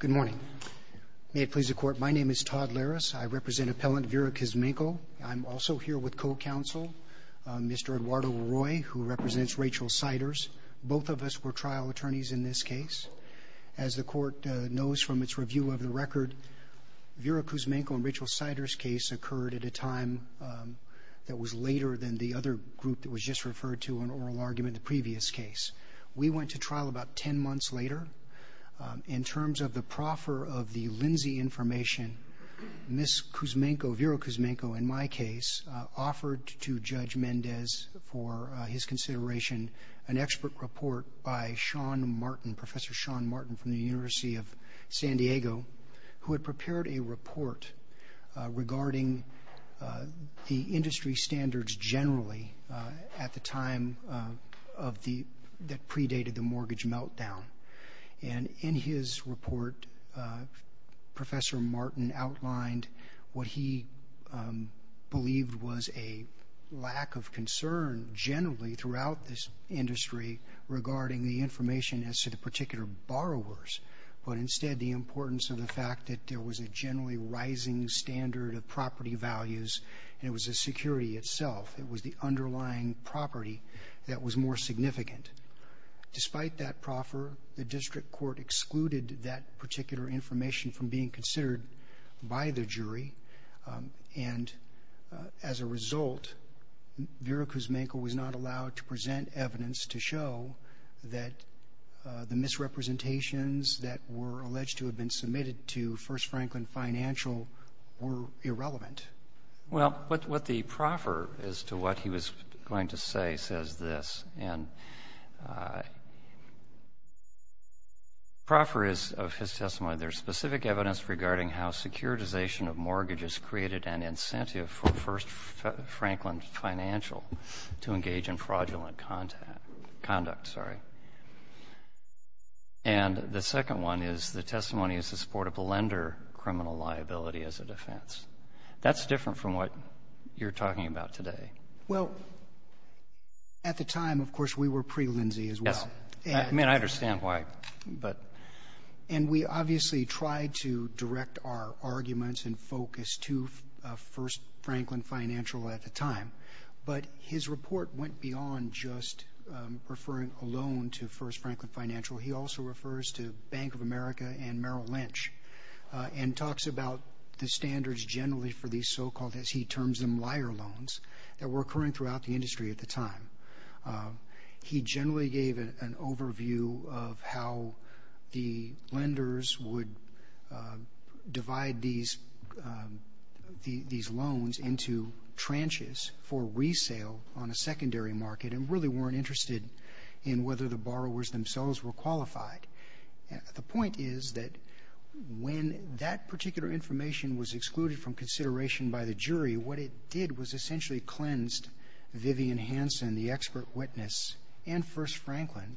Good morning. May it please the court, my name is Todd Larris. I represent appellant Vera Kuzmenko. I'm also here with co-counsel Mr. Eduardo Roy, who represents Rachel Siders. Both of us were trial attorneys in this case. As the court knows from its review of the record, Vera Kuzmenko and Rachel Siders' case occurred at a time that was later than the other group that was just referred to in oral argument, the previous case. We went to trial about 10 months later. In terms of the proffer of the Lindsay information, Ms. Kuzmenko, Vera Kuzmenko, in my case, offered to Judge Mendez for his consideration an expert report by Sean Martin, Professor Sean Martin from the University of San Diego, who had prepared a report regarding the industry standards generally at the time that predated the mortgage meltdown. And in his report, Professor Martin outlined what he believed was a lack of concern generally throughout this industry regarding the information as to the particular borrowers, but instead the importance of the fact that there was a generally rising standard of property values and it was a security itself. It was the underlying property that was more significant. Despite that proffer, the district court excluded that particular information from being considered by the jury, and as a result, Vera Kuzmenko was not allowed to present evidence to show that the misrepresentations that were alleged to have been submitted to First Franklin Financial were irrelevant. Well, what the proffer is to what he was going to say says this, and the proffer is of his testimony, there's specific evidence regarding how securitization of mortgages created an incentive for First Franklin Financial to engage in fraudulent conduct. And the testimony is the support of the lender criminal liability as a defense. That's different from what you're talking about today. Well, at the time, of course, we were pre-Lindsey as well. Yes. I mean, I understand why, but... And we obviously tried to direct our arguments and focus to First Franklin Financial at the time, but his report went beyond just referring alone to First Franklin of America and Merrill Lynch, and talks about the standards generally for these so-called, as he terms them, liar loans that were occurring throughout the industry at the time. He generally gave an overview of how the lenders would divide these loans into tranches for resale on a secondary market and really weren't interested in whether the borrowers themselves were qualified. At the point is that when that particular information was excluded from consideration by the jury, what it did was essentially cleansed Vivian Hansen, the expert witness, and First Franklin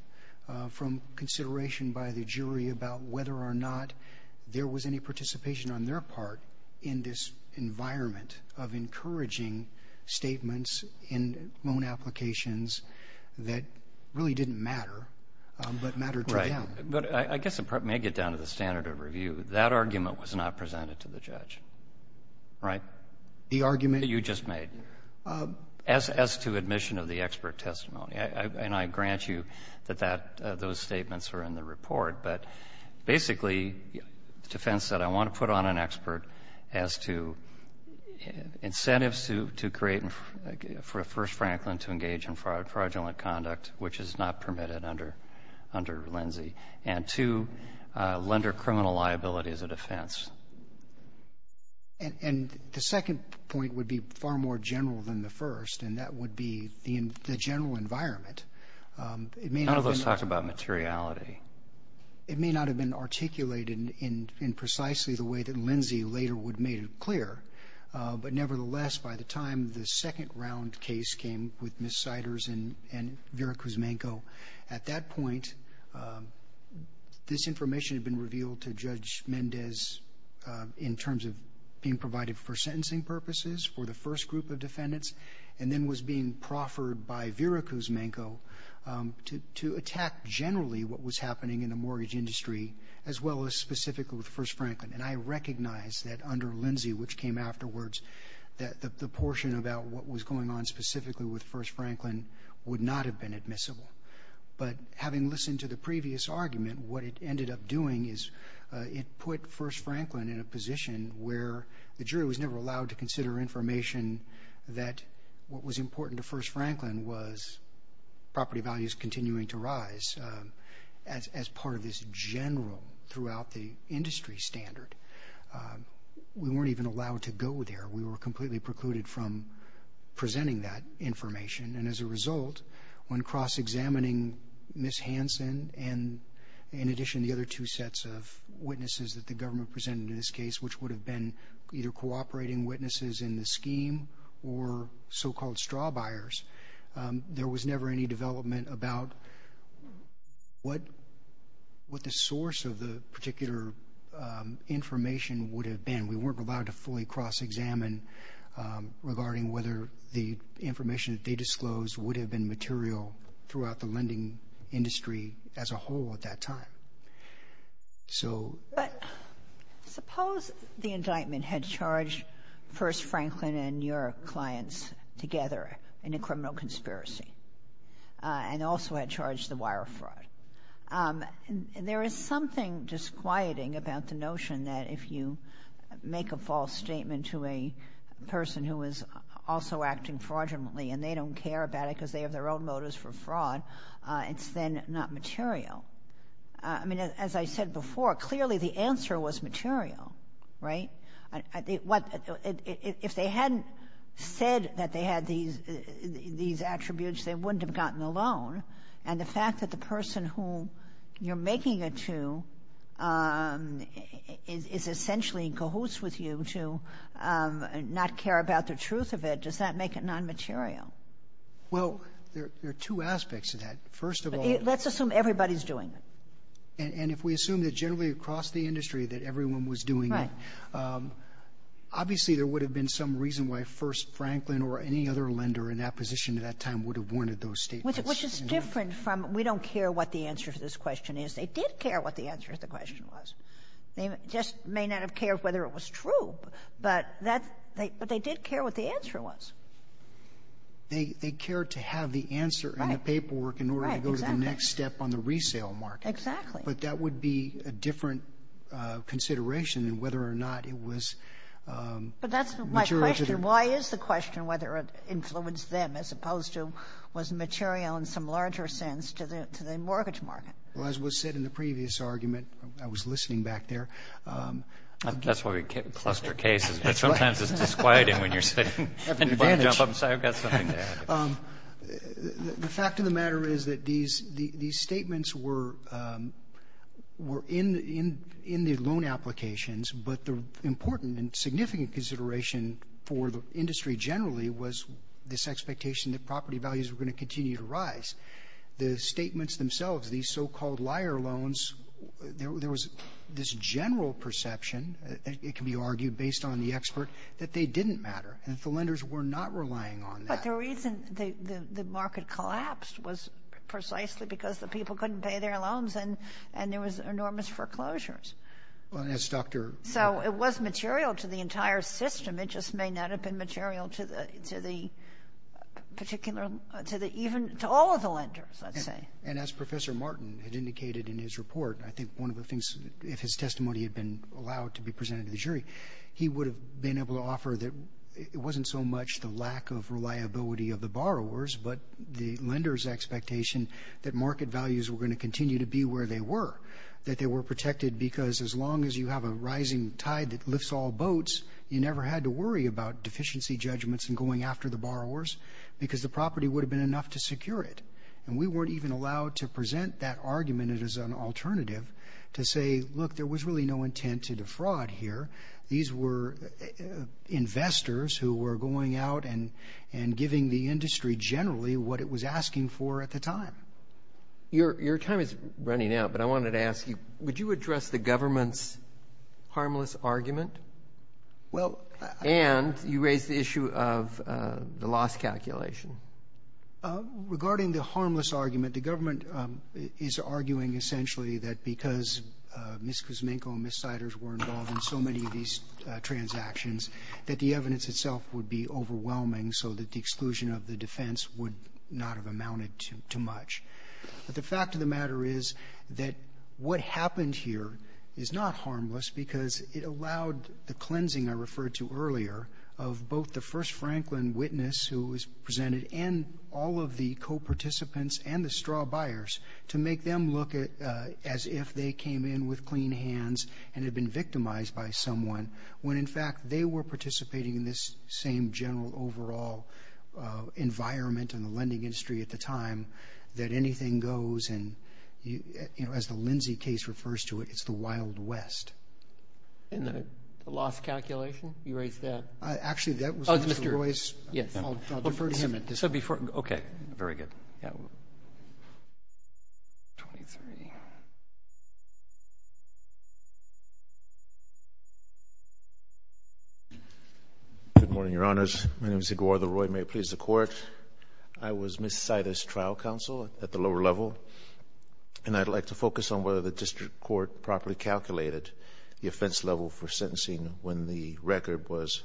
from consideration by the jury about whether or not there was any participation on their part in this environment of encouraging statements in loan applications that really didn't matter, but mattered to them. Right. But I guess it may get down to the standard of review. That argument was not presented to the judge, right? The argument... That you just made. As to admission of the expert testimony. And I grant you that that those statements were in the report, but basically, the defense said, I want to put on an expert as to incentives to create for First Franklin to engage in fraudulent conduct, which is not permitted under Lindsay. And two, lender criminal liability as a defense. And the second point would be far more general than the first, and that would be the general environment. None of those talk about materiality. It may not have been articulated in precisely the way that Lindsay later would have made it clear, but nevertheless, by the time the second round case came with Ms. Siders and Vera Kuzmenko, at that point, this information had been revealed to Judge Mendez in terms of being provided for sentencing purposes for the first group of defendants, and then was being proffered by Vera Kuzmenko to attack generally what was happening in the mortgage industry, as well as specifically with First Franklin. And I recognize that under Lindsay, which came afterwards, that the portion about what was going on specifically with First Franklin would not have been admissible. But having listened to the previous argument, what it ended up doing is it put First Franklin in a position where the jury was never allowed to consider information that what was important to First Franklin was property values continuing to rise as part of this general throughout the industry standard. We weren't even allowed to go there. We were completely precluded from presenting that information, and as a result, when cross-examining Ms. Hanson and, in addition, the other two sets of witnesses that the government presented in this case, which would have been either cooperating witnesses in the scheme or so-called straw buyers, there was never any development about what the source of the particular information would have been. We weren't allowed to present information that they disclosed would have been material throughout the lending industry as a whole at that time. So — But suppose the indictment had charged First Franklin and your clients together in a criminal conspiracy and also had charged the wire fraud. There is something disquieting about the notion that if you make a false statement to a person who is also acting fraudulently and they don't care about it because they have their own motives for fraud, it's then not material. I mean, as I said before, clearly the answer was material, right? If they hadn't said that they had these attributes, they wouldn't have gotten the loan, and the fact that the person who you're making it to is essentially in cahoots with you to not care about the truth of it, does that make it nonmaterial? Well, there are two aspects to that. First of all — Let's assume everybody's doing it. And if we assume that generally across the industry that everyone was doing it — Right. Obviously, there would have been some reason why First Franklin or any other lender in that position at that time would have wanted those statements. Which is different from we don't care what the answer to this question is. They did care what the answer to the question was. They just may not have cared whether it was true. But that — but they did care what the answer was. They cared to have the answer in the paperwork in order to go to the next step on the resale market. Exactly. But that would be a different consideration than whether or not it was material to the — But that's my question. Why is the question whether it influenced them as opposed to was material in some larger sense to the mortgage market? Well, as was said in the previous argument, I was listening back there — That's why we cluster cases. But sometimes it's disquieting when you're sitting and you want to jump up and say, I've got something to add. The fact of the matter is that these statements were in the loan applications. But the important and significant consideration for the industry generally was this expectation that property values were going to continue to rise. The statements themselves, these so-called liar loans, there was this general perception — it can be argued based on the expert — that they didn't matter, and that the lenders were not relying on that. But the reason the market collapsed was precisely because the people couldn't pay their loans and there was enormous foreclosures. Well, and as Dr. — So it was material to the entire system. It just may not have been material to the particular — to the even — to all of the lenders, let's say. And as Professor Martin had indicated in his report, I think one of the things — if his testimony had been allowed to be presented to the jury, he would have been able to offer that it wasn't so much the lack of reliability of the borrowers, but the lenders' expectation that market values were going to continue to be where they were, that they were protected because as long as you have a rising tide that lifts all boats, you never had to worry about deficiency judgments and going after the borrowers, because the property would have been enough to secure it. And we weren't even allowed to present that argument as an alternative to say, look, there was really no intent to defraud here. These were investors who were going out and giving the industry generally what it was asking for at the time. Your time is running out, but I wanted to ask you, would you address the government's harmless argument? Well — And you raised the issue of the loss calculation. Regarding the harmless argument, the government is arguing essentially that because Ms. Kuzminko and Ms. Siders were involved in so many of these transactions, that the evidence itself would be overwhelming so that the exclusion of the defense would not have amounted to much. But the fact of the matter is that what happened here is not harmless because it allowed the cleansing I referred to earlier of both the first Franklin witness who was presented and all of the co-participants and the straw buyers to make them look as if they came in with clean hands and had been victimized by someone when in fact they were participating in this same general overall environment in the lending industry at the time that anything goes and, you know, as the Lindsay case refers to it, it's the Wild West. And the loss calculation, you raised that? Actually, that was Mr. Royce. Yes. I'll defer to him at this point. So before, okay. Very good. Yeah, we'll... Twenty-three. Good morning, Your Honors. My name is Eduardo Roy. May it please the Court. I was Ms. Siders' trial counsel at the lower level. And I'd like to focus on whether the district court properly calculated the offense level for sentencing when the record was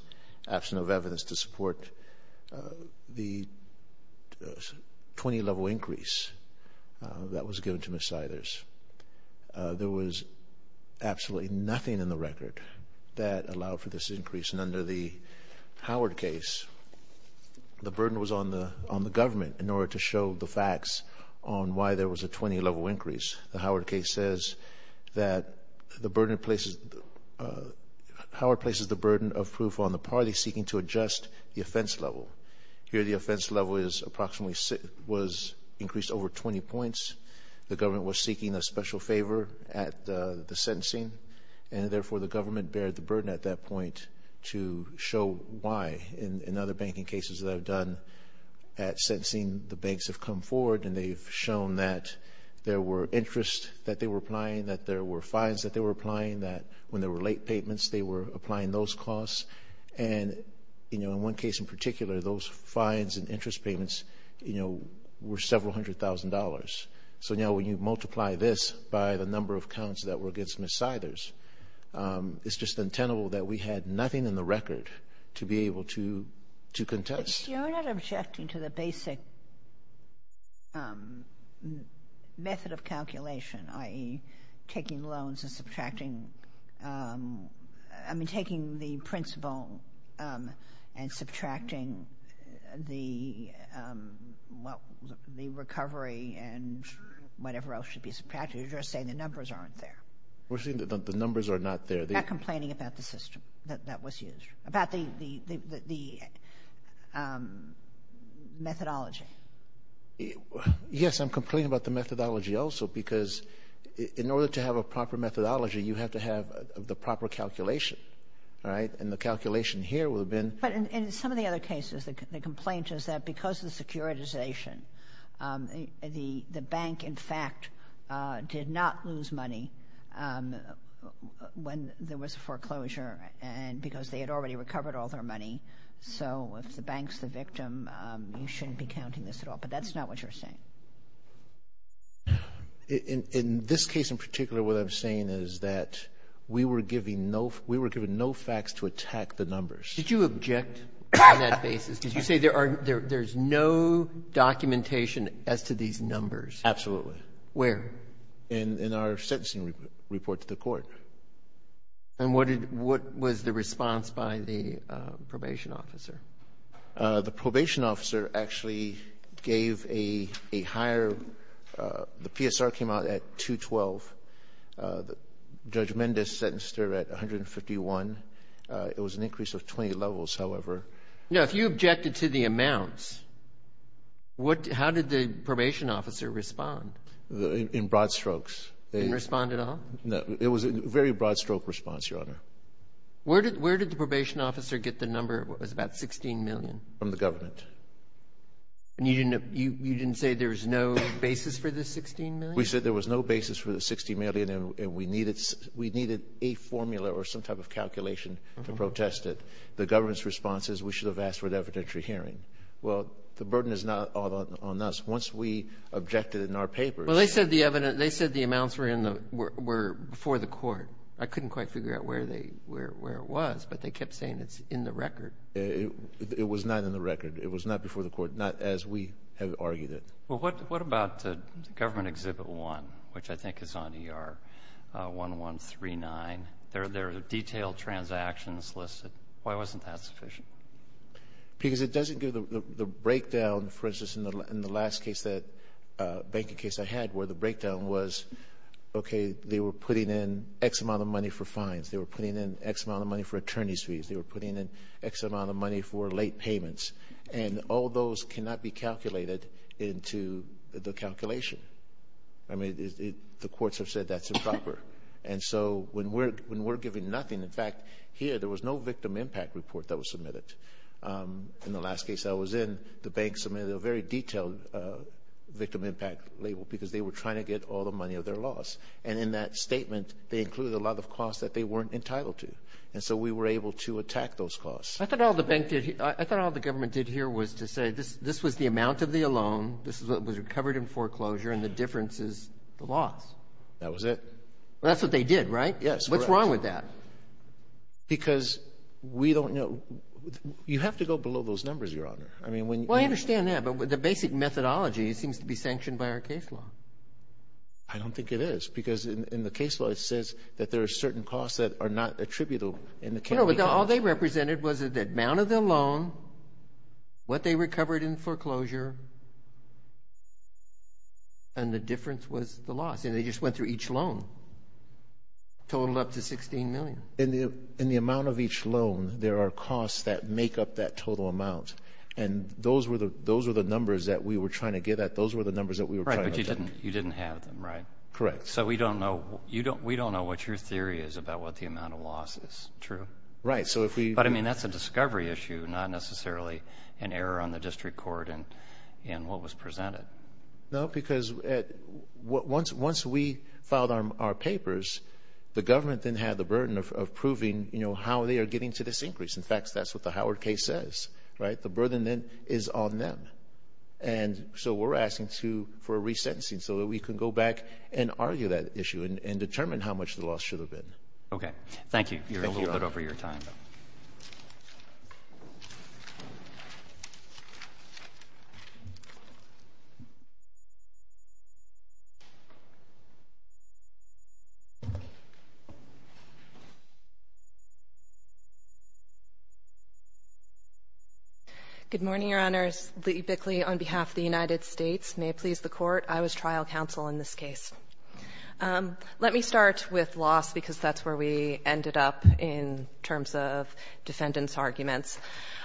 absent of evidence to support the 20-level increase that was given to Ms. Siders. There was absolutely nothing in the record that allowed for this increase. And under the Howard case, the burden was on the government in order to show the facts on why there was a 20-level increase. The Howard case says that the burden places... seeking to adjust the offense level. Here, the offense level is approximately... was increased over 20 points. The government was seeking a special favor at the sentencing. And therefore, the government bared the burden at that point to show why. In other banking cases that I've done at sentencing, the banks have come forward and they've shown that there were interest that they were applying, that there were fines that they were applying, that when there were late payments, they were applying those costs. And, you know, in one case in particular, those fines and interest payments, you know, were several hundred thousand dollars. So now when you multiply this by the number of counts that were against Ms. Siders, it's just untenable that we had nothing in the record to be able to contest. You're not objecting to the basic method of calculation, i.e. taking loans and subtracting... I mean, taking the principal and subtracting the recovery and whatever else should be subtracted. You're just saying the numbers aren't there. We're saying that the numbers are not there. You're not complaining about the system that was used, about the methodology. Yes, I'm complaining about the methodology also because in order to have a proper methodology, you have to have the proper calculation, all right? And the calculation here would have been... But in some of the other cases, the complaint is that because of the securitization, the bank, in fact, did not lose money when there was foreclosure and because they had already recovered all their money. So if the bank's the victim, you shouldn't be counting this at all. But that's not what you're saying. In this case in particular, what I'm saying is that we were given no facts to attack the numbers. Did you object on that basis? Did you say there's no documentation as to these numbers? Absolutely. Where? In our sentencing report to the court. And what was the response by the probation officer? The probation officer actually gave a higher the PSR came out at 212. Judge Mendez sentenced her at 151. It was an increase of 20 levels, however. Now, if you objected to the amounts, how did the probation officer respond? In broad strokes. They didn't respond at all? No, it was a very broad stroke response, Your Honor. Where did the probation officer get the number? It was about 16 million. From the government. And you didn't say there was no basis for the 16 million? We said there was no basis for the 16 million, and we needed a formula or some type of calculation to protest it. The government's response is we should have asked for an evidentiary hearing. Well, the burden is not on us. Once we objected in our papers — Well, they said the amounts were before the court. I couldn't quite figure out where it was, but they kept saying it's in the record. It was not in the record. It was not before the court, not as we have argued it. Well, what about Government Exhibit 1, which I think is on ER 1139? There are detailed transactions listed. Why wasn't that sufficient? Because it doesn't give the breakdown, for instance, in the last banking case I had where the breakdown was, okay, they were putting in X amount of money for fines. They were putting in X amount of money for attorney's fees. They were putting in X amount of money for late payments. And all those cannot be calculated into the calculation. I mean, the courts have said that's improper. And so when we're giving nothing — in fact, here, there was no victim impact report that was submitted. In the last case I was in, the bank submitted a very detailed victim impact label because they were trying to get all the money of their loss. And in that statement, they included a lot of costs that they weren't entitled to. And so we were able to attack those costs. I thought all the bank did — I thought all the government did here was to say this was the amount of the loan, this is what was recovered in foreclosure, and the difference is the loss. That was it. Well, that's what they did, right? Yes. Correct. What's wrong with that? Because we don't know — you have to go below those numbers, Your Honor. I mean, when — Well, I understand that. But the basic methodology seems to be sanctioned by our case law. I don't think it is, because in the case law it says that there are certain costs that are not attributable in the county costs. No, but all they represented was the amount of the loan, what they recovered in foreclosure, and the difference was the loss. And they just went through each loan, totaled up to $16 million. In the amount of each loan, there are costs that make up that total amount. And those were the numbers that we were trying to get at. Those were the numbers that we were trying to obtain. Right. But you didn't have them, right? Correct. So, we don't know what your theory is about what the amount of loss is. True. Right. So, if we — But, I mean, that's a discovery issue, not necessarily an error on the district court in what was presented. No, because once we filed our papers, the government then had the burden of proving how they are getting to this increase. In fact, that's what the Howard case says, right? The burden then is on them. And so, we're asking for a resentencing so that we can go back and argue that issue and determine how much the loss should have been. OK. Thank you. Thank you. You're a little bit over your time, though. Good morning, Your Honors. Lee Bickley on behalf of the United States. May it please the Court. I was trial counsel in this case. Let me start with loss, because that's where we ended up in terms of defendants' arguments.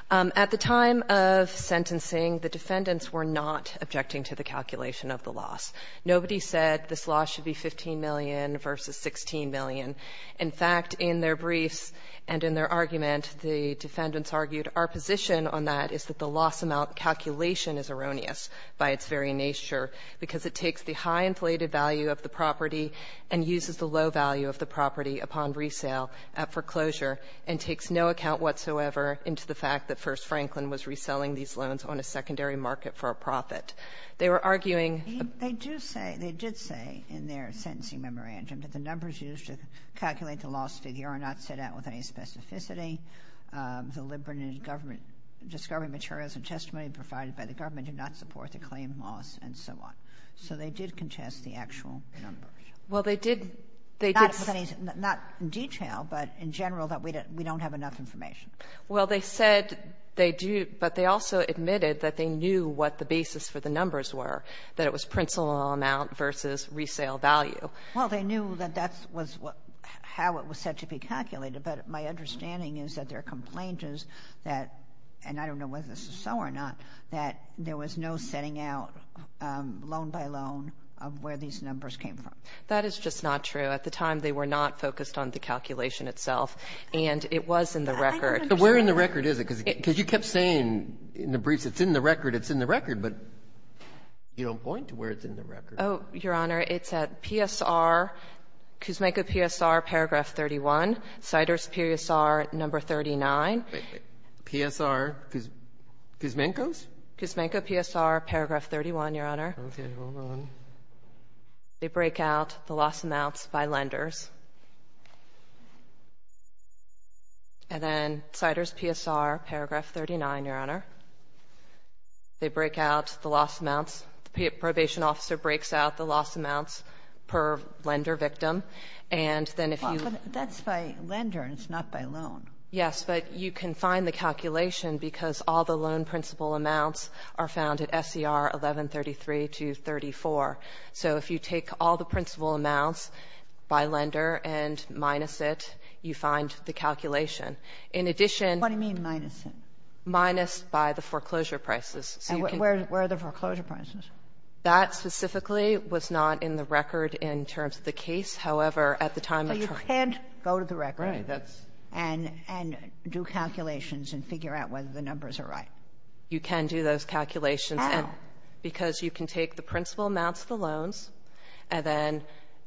At the time of sentencing, the defendants were not objecting to the calculation of the loss. Nobody said this loss should be $15 million versus $16 million. In fact, in their briefs and in their argument, the defendants argued our position on that is that the loss amount calculation is erroneous by its very nature, because it takes the high inflated value of the property and uses the low value of the property upon resale at foreclosure and takes no account whatsoever into the fact that First Franklin was reselling these loans on a secondary market for a profit. They were arguing the loss amount calculation is erroneous by its very nature, because the discovery materials and testimony provided by the government do not support the claim loss and so on. So they did contest the actual numbers. Well, they did. Not in detail, but in general, that we don't have enough information. Well, they said they do, but they also admitted that they knew what the basis for the numbers were, that it was principal amount versus resale value. Well, they knew that that was how it was said to be calculated, but my understanding is that their complaint is that, and I don't know whether this is so or not, that there was no setting out loan by loan of where these numbers came from. That is just not true. At the time, they were not focused on the calculation itself, and it was in the record. But where in the record is it? Because you kept saying in the briefs, it's in the record, it's in the record. But you don't point to where it's in the record. Oh, Your Honor, it's at PSR, Cusmanco PSR, paragraph 31, Ciders PSR, number 39. PSR, Cusmanco's? Cusmanco PSR, paragraph 31, Your Honor. Okay. Hold on. They break out the loss amounts by lenders. And then Ciders PSR, paragraph 39, Your Honor. They break out the loss amounts. The probation officer breaks out the loss amounts per lender victim. And then if you ---- But that's by lender, and it's not by loan. Yes. But you can find the calculation because all the loan principal amounts are found at SCR 1133 to 34. So if you take all the principal amounts by lender and minus it, you find the calculation. In addition ---- What do you mean, minus it? Minus by the foreclosure prices. And where are the foreclosure prices? That specifically was not in the record in terms of the case. However, at the time of trial ---- So you can't go to the record and do calculations and figure out whether the numbers are right. You can do those calculations. How? Because you can take the principal amounts of the loans, and then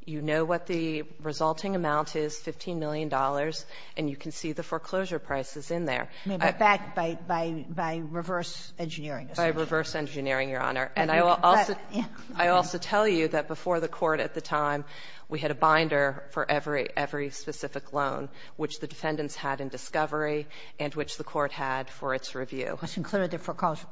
you know what the resulting amount is, $15 million, and you can see the foreclosure prices in there. I mean, but that by reverse engineering. By reverse engineering, Your Honor. And I will also tell you that before the Court at the time, we had a binder for every specific loan, which the defendants had in discovery and which the Court had for its review. Which included the foreclosure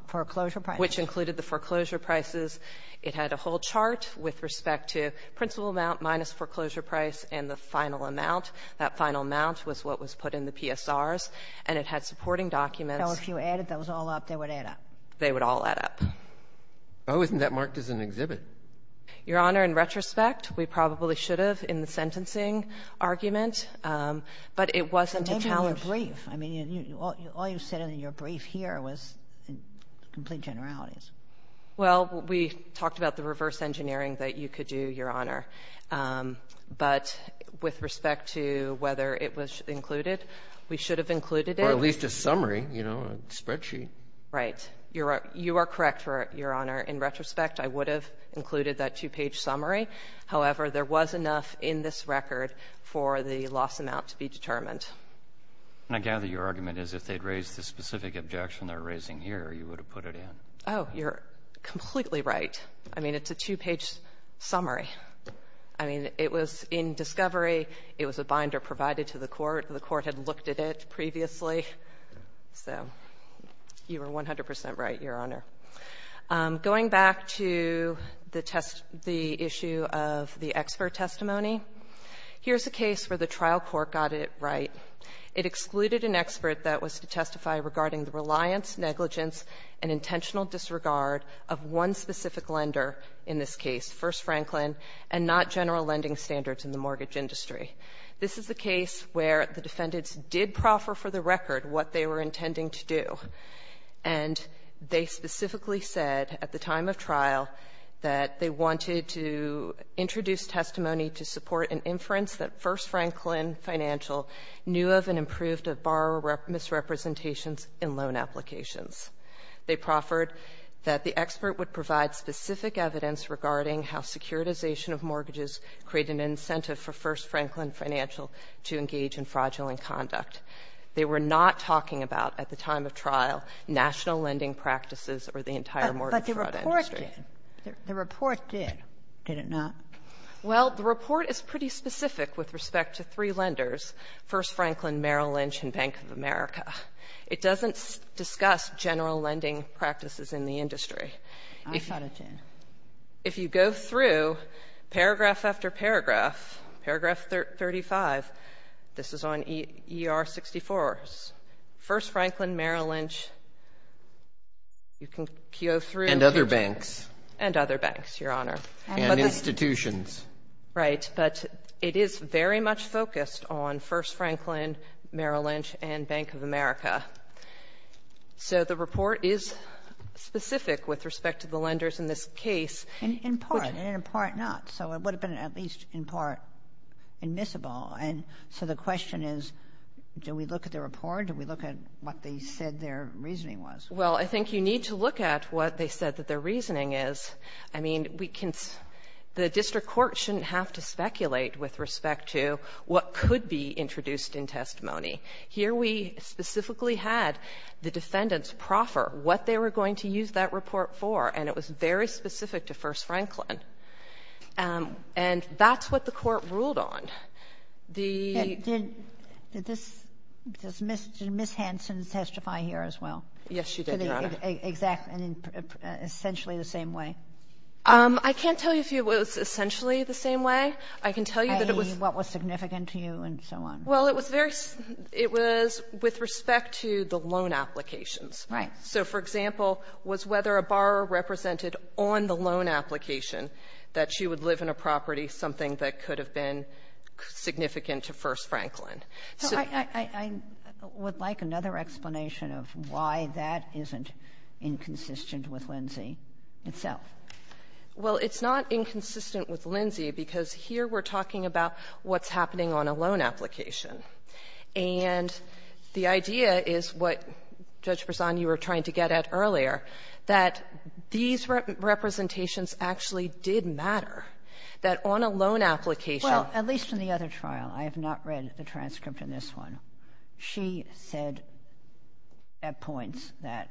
prices. Which included the foreclosure prices. It had a whole chart with respect to principal amount minus foreclosure price and the final amount. That final amount was what was put in the PSRs. And it had supporting documents. So if you added those all up, they would add up. They would all add up. Oh, isn't that marked as an exhibit? Your Honor, in retrospect, we probably should have in the sentencing argument. But it wasn't a challenge. Maybe in your brief. I mean, all you said in your brief here was in complete generalities. Well, we talked about the reverse engineering that you could do, Your Honor. But with respect to whether it was included, we should have included it. Or at least a summary, you know, a spreadsheet. Right. You are correct, Your Honor. In retrospect, I would have included that two-page summary. However, there was enough in this record for the loss amount to be determined. And I gather your argument is if they'd raised the specific objection they're raising here, you would have put it in. Oh, you're completely right. I mean, it's a two-page summary. I mean, it was in discovery. It was a binder provided to the Court. The Court had looked at it previously. So you were 100 percent right, Your Honor. Going back to the test the issue of the expert testimony, here's a case where the trial court got it right. It excluded an expert that was to testify regarding the reliance, negligence, and intentional disregard of one specific lender in this case, First Franklin and not general lending standards in the mortgage industry. This is a case where the defendants did proffer for the record what they were intending to do, and they specifically said at the time of trial that they wanted to introduce testimony to support an inference that First Franklin Financial knew of and approved of borrower misrepresentations in loan applications. They proffered that the expert would provide specific evidence regarding how securitization of mortgages created an incentive for First Franklin Financial to engage in fraudulent conduct. They were not talking about, at the time of trial, national lending practices or the entire mortgage fraud industry. Ginsburg. But the report did. The report did, did it not? Well, the report is pretty specific with respect to three lenders, First Franklin, Merrill Lynch, and Bank of America. It doesn't discuss general lending practices in the industry. I thought it did. If you go through paragraph after paragraph, paragraph 35, this is on ER-64s. First Franklin, Merrill Lynch, you can go through. And other banks. And other banks, Your Honor. And institutions. Right. But it is very much focused on First Franklin, Merrill Lynch, and Bank of America. So the report is specific with respect to the lenders in this case. And in part, and in part not. So it would have been at least in part admissible. And so the question is, do we look at the report? Do we look at what they said their reasoning was? Well, I think you need to look at what they said that their reasoning is. I mean, we can see the district court shouldn't have to speculate with respect to what could be introduced in testimony. Here we specifically had the defendants proffer what they were going to use that report for, and it was very specific to First Franklin. And that's what the Court ruled on. The — Did — did this — did Ms. Hanson testify here as well? Yes, she did, Your Honor. To the exact — essentially the same way? I can't tell you if it was essentially the same way. I can tell you that it was — I mean, what was significant to you and so on. Well, it was very — it was with respect to the loan applications. Right. So, for example, was whether a borrower represented on the loan application that she would live in a property, something that could have been significant to First Franklin. So — I — I would like another explanation of why that isn't inconsistent with Lindsay itself. Well, it's not inconsistent with Lindsay because here we're talking about what's And the idea is what, Judge Bresan, you were trying to get at earlier, that these representations actually did matter, that on a loan application — Well, at least in the other trial. I have not read the transcript in this one. She said at points that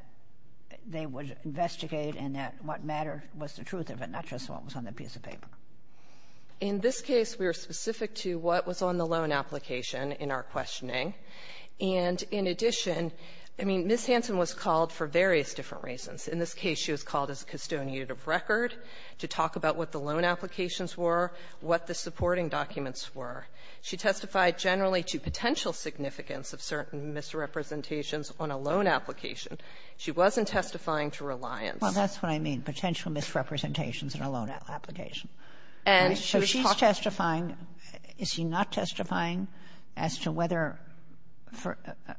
they would investigate and that what mattered was the truth of it, not just what was on the piece of paper. In this case, we were specific to what was on the loan application in our questioning. And in addition, I mean, Ms. Hansen was called for various different reasons. In this case, she was called as a custodian of record to talk about what the loan applications were, what the supporting documents were. She testified generally to potential significance of certain misrepresentations on a loan application. She wasn't testifying to reliance. Well, that's what I mean, potential misrepresentations on a loan application. And she was talking to — So she's testifying. Is she not testifying as to whether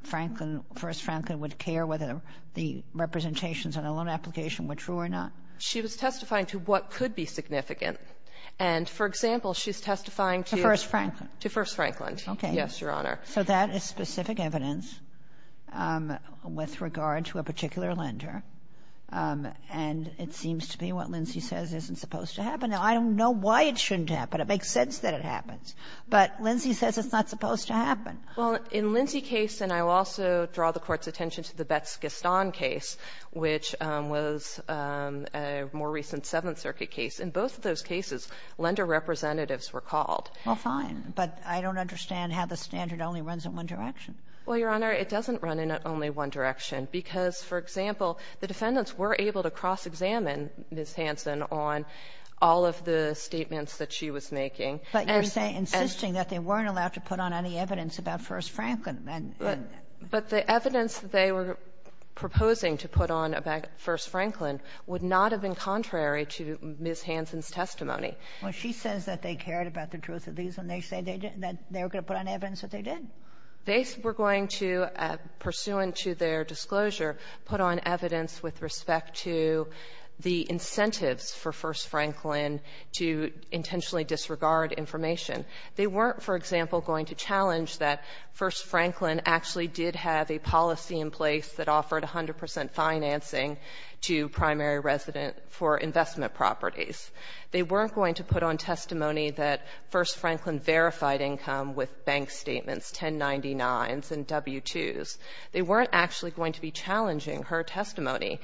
Franklin — First Franklin would care whether the representations on a loan application were true or not? She was testifying to what could be significant. And, for example, she's testifying to — To First Franklin. To First Franklin. Okay. Yes, Your Honor. So that is specific evidence with regard to a particular lender. And it seems to me what Lindsay says isn't supposed to happen. Now, I don't know why it shouldn't happen. It makes sense that it happens. But Lindsay says it's not supposed to happen. Well, in Lindsay's case, and I will also draw the Court's attention to the Betz-Gaston case, which was a more recent Seventh Circuit case, in both of those cases, lender representatives were called. Well, fine. But I don't understand how the standard only runs in one direction. Well, Your Honor, it doesn't run in only one direction, because, for example, the defendants were able to cross-examine Ms. Hansen on all of the statements that she was making. But you're saying — insisting that they weren't allowed to put on any evidence about First Franklin. But the evidence that they were proposing to put on about First Franklin would not have been contrary to Ms. Hansen's testimony. Well, she says that they cared about the truth of these, and they said they didn't — that they were going to put on evidence that they did. They were going to, pursuant to their disclosure, put on evidence with respect to the incentives for First Franklin to intentionally disregard information. They weren't, for example, going to challenge that First Franklin actually did have a policy in place that offered 100 percent financing to primary resident for investment properties. They weren't going to put on testimony that First Franklin verified income with bank statements, 1099s and W-2s. They weren't actually going to be challenging her testimony.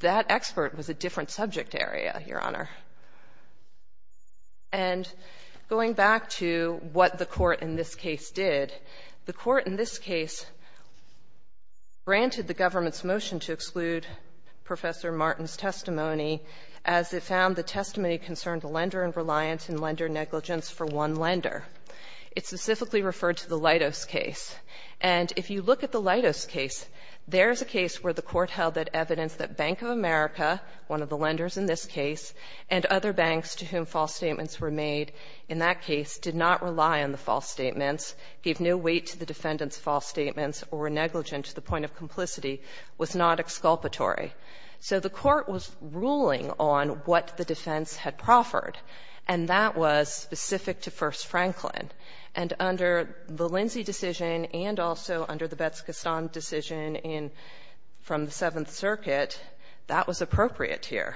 That expert was a different subject area, Your Honor. And going back to what the Court in this case did, the Court in this case granted the government's motion to exclude Professor Martin's testimony as it found the testimony concerned a lender and reliant in lender negligence for one lender. It specifically referred to the Leidos case. And if you look at the Leidos case, there's a case where the Court held that evidence that Bank of America, one of the lenders in this case, and other banks to whom false statements were made in that case did not rely on the false statements, gave no weight to the defendant's false statements, or were negligent to the point of complicity, was not exculpatory. So the Court was ruling on what the defense had proffered, and that was specific to First Franklin. And under the Lindsay decision and also under the Betz-Gaston decision in the Seventh Circuit, that was appropriate here.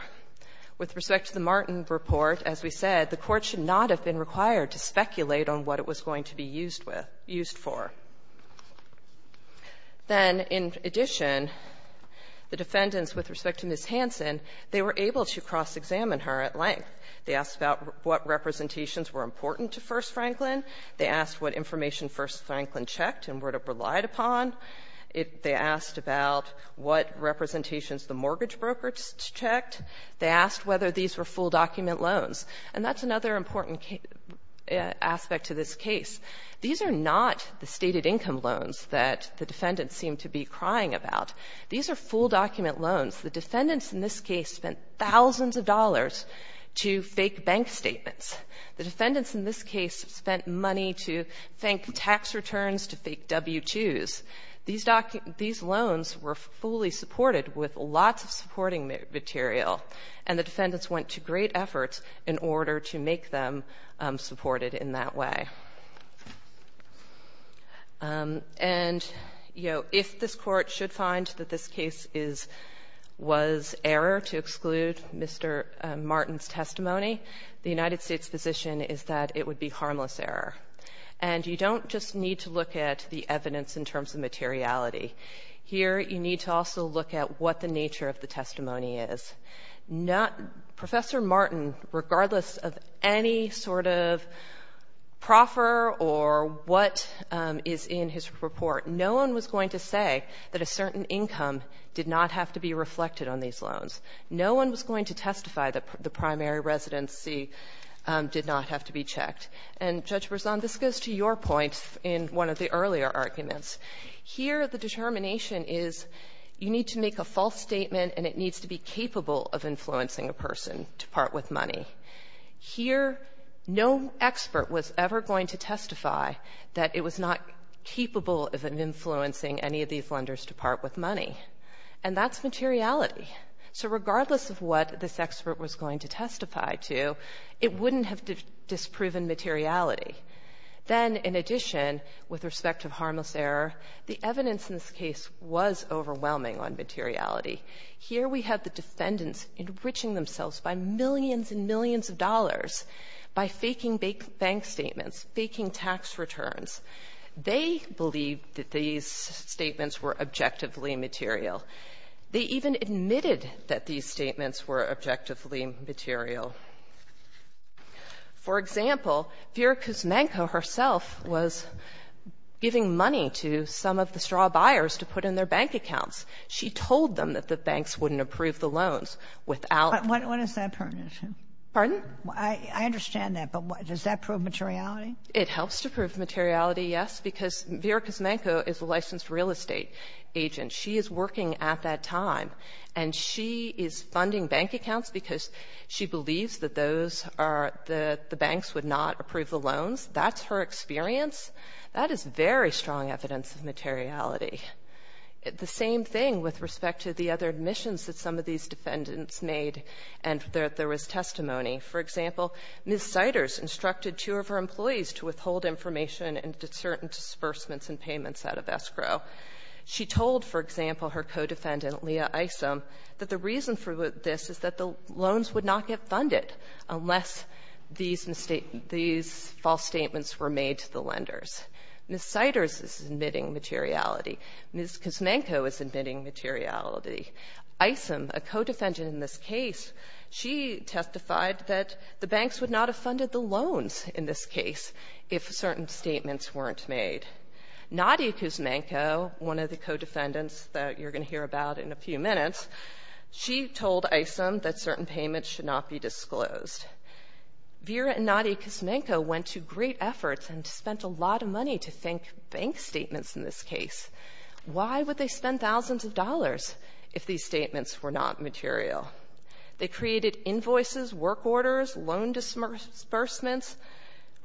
With respect to the Martin report, as we said, the Court should not have been required to speculate on what it was going to be used with or used for. Then, in addition, the defendants, with respect to Ms. Hansen, they were able to cross-examine her at length. They asked about what representations were important to First Franklin. They asked what information First Franklin checked and relied upon. They asked about what representations the mortgage brokers checked. They asked whether these were full-document loans. And that's another important aspect to this case. These are not the stated income loans that the defendants seem to be crying about. These are full-document loans. The defendants in this case spent thousands of dollars to fake bank statements. The defendants in this case spent money to fake tax returns, to fake W-2s. These loans were fully supported with lots of supporting material, and the defendants went to great efforts in order to make them supported in that way. And, you know, if this Court should find that this case is — was error to exclude Mr. Martin's testimony, the United States position is that it would be harmless error. And you don't just need to look at the evidence in terms of materiality. Here you need to also look at what the nature of the testimony is. Not — Professor Martin, regardless of any sort of proffer or what is in his report, no one was going to say that a certain income did not have to be reflected on these loans. No one was going to testify that the primary residency did not have to be checked. And, Judge Berzon, this goes to your point in one of the earlier arguments. Here the determination is you need to make a false statement and it needs to be capable of influencing a person to part with money. Here, no expert was ever going to testify that it was not capable of influencing any of these lenders to part with money, and that's materiality. So regardless of what this expert was going to testify to, it wouldn't have disproven materiality. Then, in addition, with respect to harmless error, the evidence in this case was overwhelming on materiality. Here we have the defendants enriching themselves by millions and millions of dollars by faking bank statements, faking tax returns. They believed that these statements were objectively material. They even admitted that these statements were objectively material. For example, Vera Kuzmenko herself was giving money to some of the straw buyers to put in their bank accounts. She told them that the banks wouldn't approve the loans without the loans. Sotomayor, what does that pertain to? Pardon? I understand that, but does that prove materiality? It helps to prove materiality, yes, because Vera Kuzmenko is a licensed real estate agent. She is working at that time, and she is funding bank accounts because she believes that those are the banks would not approve the loans. That's her experience. That is very strong evidence of materiality. The same thing with respect to the other admissions that some of these defendants made, and there was testimony. For example, Ms. Siders instructed two of her employees to withhold information and to certain disbursements and payments out of escrow. She told, for example, her co-defendant, Leah Isom, that the reason for this is that the loans would not get funded unless these false statements were made to the lenders. Ms. Siders is admitting materiality. Ms. Kuzmenko is admitting materiality. Isom, a co-defendant in this case, she testified that the banks would not have funded the loans in this case if certain statements weren't made. Nadia Kuzmenko, one of the co-defendants that you're going to hear about in a few minutes, she told Isom that certain payments should not be disclosed. Vera and Nadia Kuzmenko went to great efforts and spent a lot of money to think bank statements in this case. Why would they spend thousands of dollars if these statements were not material? They created invoices, work orders, loan disbursements,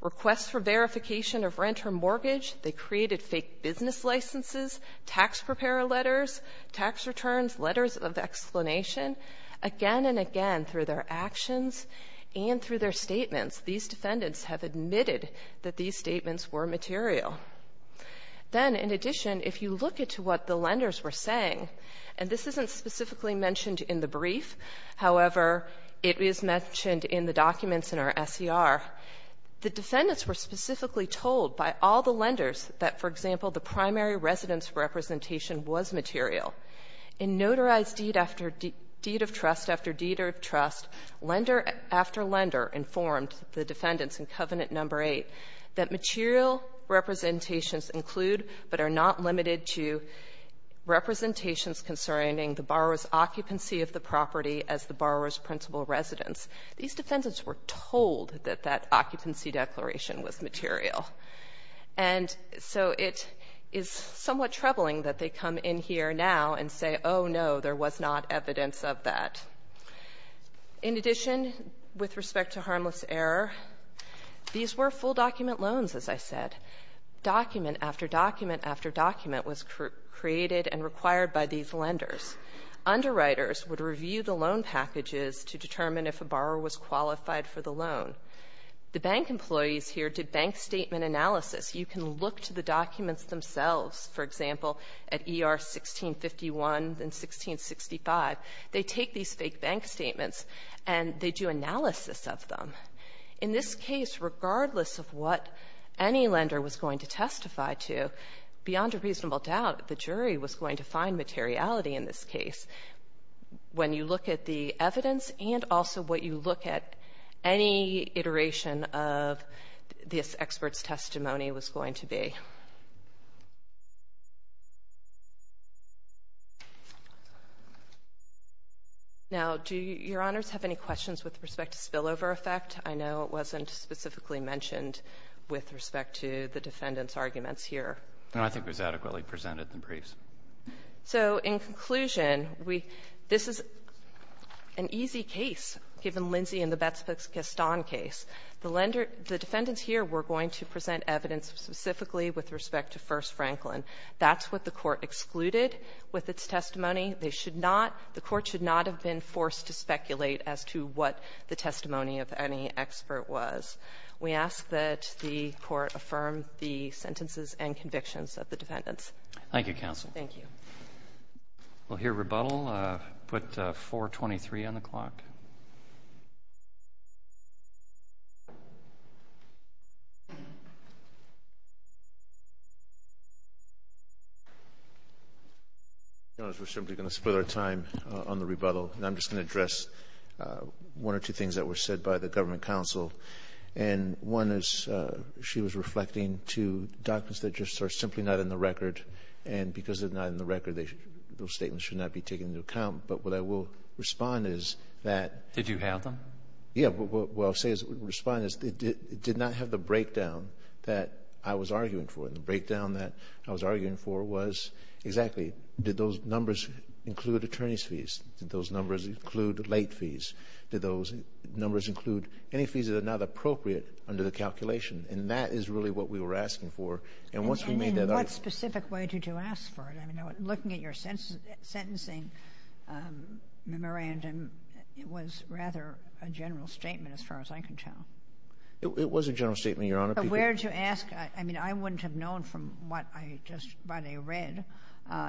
requests for verification of rent or mortgage. They created fake business licenses, tax preparer letters, tax returns, letters of explanation, again and again through their actions and through their statements, these defendants have admitted that these statements were material. Then in addition, if you look at what the lenders were saying, and this isn't specifically mentioned in the brief, however, it is mentioned in the documents in our SER, the defendants were specifically told by all the lenders that, for example, the primary residence representation was material. In notarized deed after deed of trust after deed of trust, lender after lender informed the defendants in Covenant No. 8 that material representations include but are not limited to representations concerning the borrower's occupancy of the property as the borrower's principal residence. These defendants were told that that occupancy declaration was material. And so it is somewhat troubling that they come in here now and say, oh, no, there was not evidence of that. In addition, with respect to harmless error, these were full document loans, as I said. Document after document after document was created and required by these lenders. Underwriters would review the loan packages to determine if a borrower was qualified for the loan. The bank employees here did bank statement analysis. You can look to the documents themselves, for example, at ER 1651 and 1665. They take these fake bank statements and they do analysis of them. In this case, regardless of what any lender was going to testify to, beyond a reasonable doubt the jury was going to find materiality in this case. When you look at the evidence and also what you look at, any iteration of this expert's testimony was going to be. Now, do Your Honors have any questions with respect to spillover effect? I know it wasn't specifically mentioned with respect to the defendant's arguments here. And I think it was adequately presented in the briefs. So in conclusion, we — this is an easy case, given Lindsey and the Betz-Pickastan case. The lender — the defendants here were going to present evidence specifically with respect to First Franklin. That's what the Court excluded with its testimony. They should not — the Court should not have been forced to speculate as to what the testimony of any expert was. We ask that the Court affirm the sentences and convictions of the defendants. Thank you, counsel. Thank you. We'll hear rebuttal. Put 423 on the clock. Your Honors, we're simply going to split our time on the rebuttal. And I'm just going to address one or two things that were said by the government counsel. And one is, she was reflecting to documents that just are simply not in the record. And because they're not in the record, they — those statements should not be taken into account. But what I will respond is that — Did you have them? Yeah. What I'll say as we respond is, it did not have the breakdown that I was arguing for. And the breakdown that I was arguing for was exactly, did those numbers include attorney's fees? Did those numbers include late fees? Did those numbers include any fees that are not appropriate under the calculation? And that is really what we were asking for. And once we made that argument — And what specific way did you ask for it? I mean, looking at your sentencing memorandum, it was rather a general statement, as far as I can tell. It was a general statement, Your Honor. But where did you ask — I mean, I wouldn't have known from what I just read,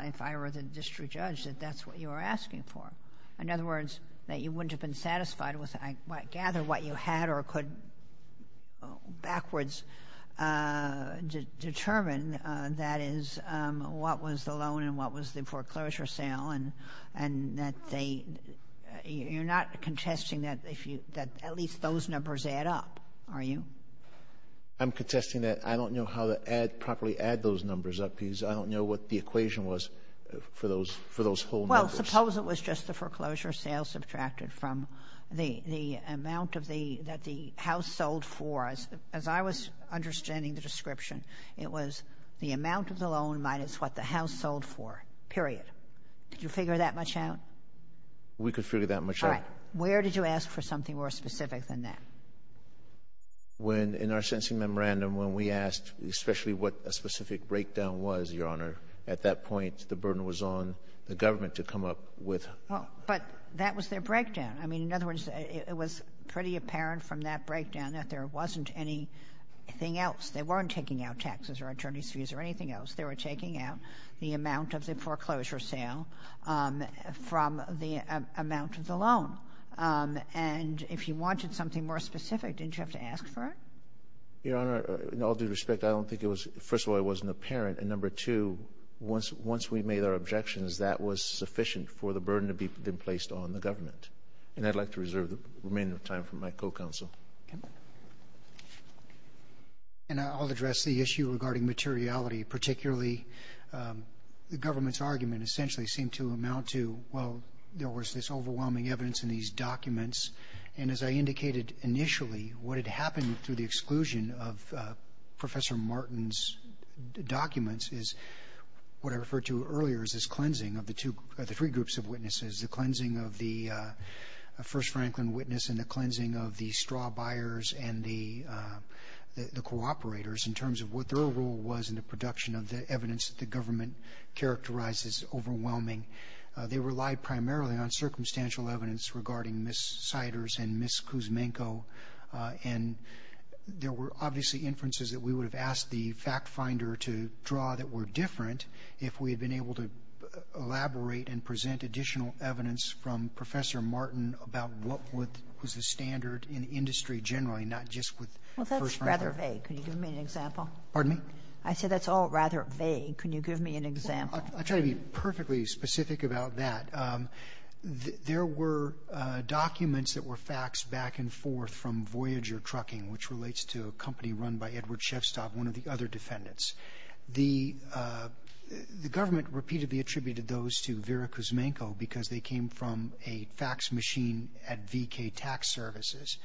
if I were the district judge, that that's what you were asking for. In other words, that you wouldn't have been satisfied with, I gather, what you determined. That is, what was the loan and what was the foreclosure sale. And that they — you're not contesting that at least those numbers add up, are you? I'm contesting that I don't know how to properly add those numbers up, because I don't know what the equation was for those whole numbers. Well, suppose it was just the foreclosure sales subtracted from the amount that the House sold for. As far as I was understanding the description, it was the amount of the loan minus what the House sold for, period. Did you figure that much out? We could figure that much out. All right. Where did you ask for something more specific than that? When — in our sentencing memorandum, when we asked especially what a specific breakdown was, Your Honor, at that point, the burden was on the government to come up with — But that was their breakdown. I mean, in other words, it was pretty apparent from that breakdown that there wasn't anything else. They weren't taking out taxes or attorneys' fees or anything else. They were taking out the amount of the foreclosure sale from the amount of the loan. And if you wanted something more specific, didn't you have to ask for it? Your Honor, in all due respect, I don't think it was — first of all, it wasn't apparent. And number two, once we made our objections, that was sufficient for the burden to be placed on the government. And I'd like to reserve the remaining time for my co-counsel. Okay. And I'll address the issue regarding materiality, particularly the government's argument essentially seemed to amount to, well, there was this overwhelming evidence in these documents. And as I indicated initially, what had happened through the exclusion of Professor Martin's documents is what I referred to earlier as this cleansing of the two — the three groups of witnesses, the cleansing of the First Franklin witness and the cleansing of the straw buyers and the cooperators in terms of what their role was in the production of the evidence that the government characterized as overwhelming. They relied primarily on circumstantial evidence regarding Ms. Siders and Ms. Kuzmenko. And there were obviously inferences that we would have asked the fact finder to draw that were different if we had been able to elaborate and learn from Professor Martin about what was the standard in industry generally, not just with First Franklin. Well, that's rather vague. Can you give me an example? Pardon me? I said that's all rather vague. Can you give me an example? I'll try to be perfectly specific about that. There were documents that were faxed back and forth from Voyager Trucking, which relates to a company run by Edward Shevstov, one of the other defendants. The government repeatedly attributed those to Vera Kuzmenko because they came from a fax machine at VK Tax Services.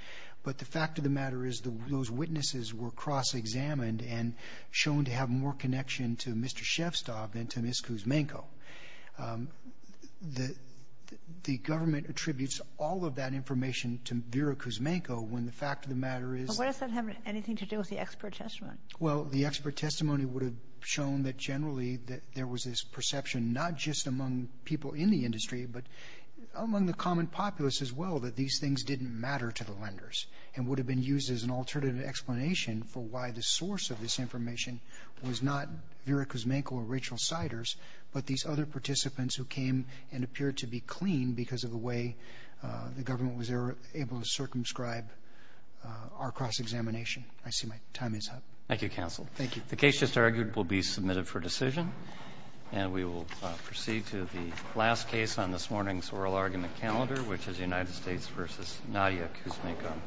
But the fact of the matter is those witnesses were cross-examined and shown to have more connection to Mr. Shevstov than to Ms. Kuzmenko. The government attributes all of that information to Vera Kuzmenko when the fact of the matter is... But what does that have anything to do with the expert testimony? Well, the expert testimony would have shown that generally there was this But among the common populace as well, that these things didn't matter to the lenders and would have been used as an alternative explanation for why the source of this information was not Vera Kuzmenko or Rachel Siders, but these other participants who came and appeared to be clean because of the way the government was able to circumscribe our cross-examination. I see my time is up. Thank you, counsel. Thank you. The case just argued will be submitted for decision. And we will proceed to the last case on this morning's oral argument calendar, which is United States v. Nadia Kuzmenko.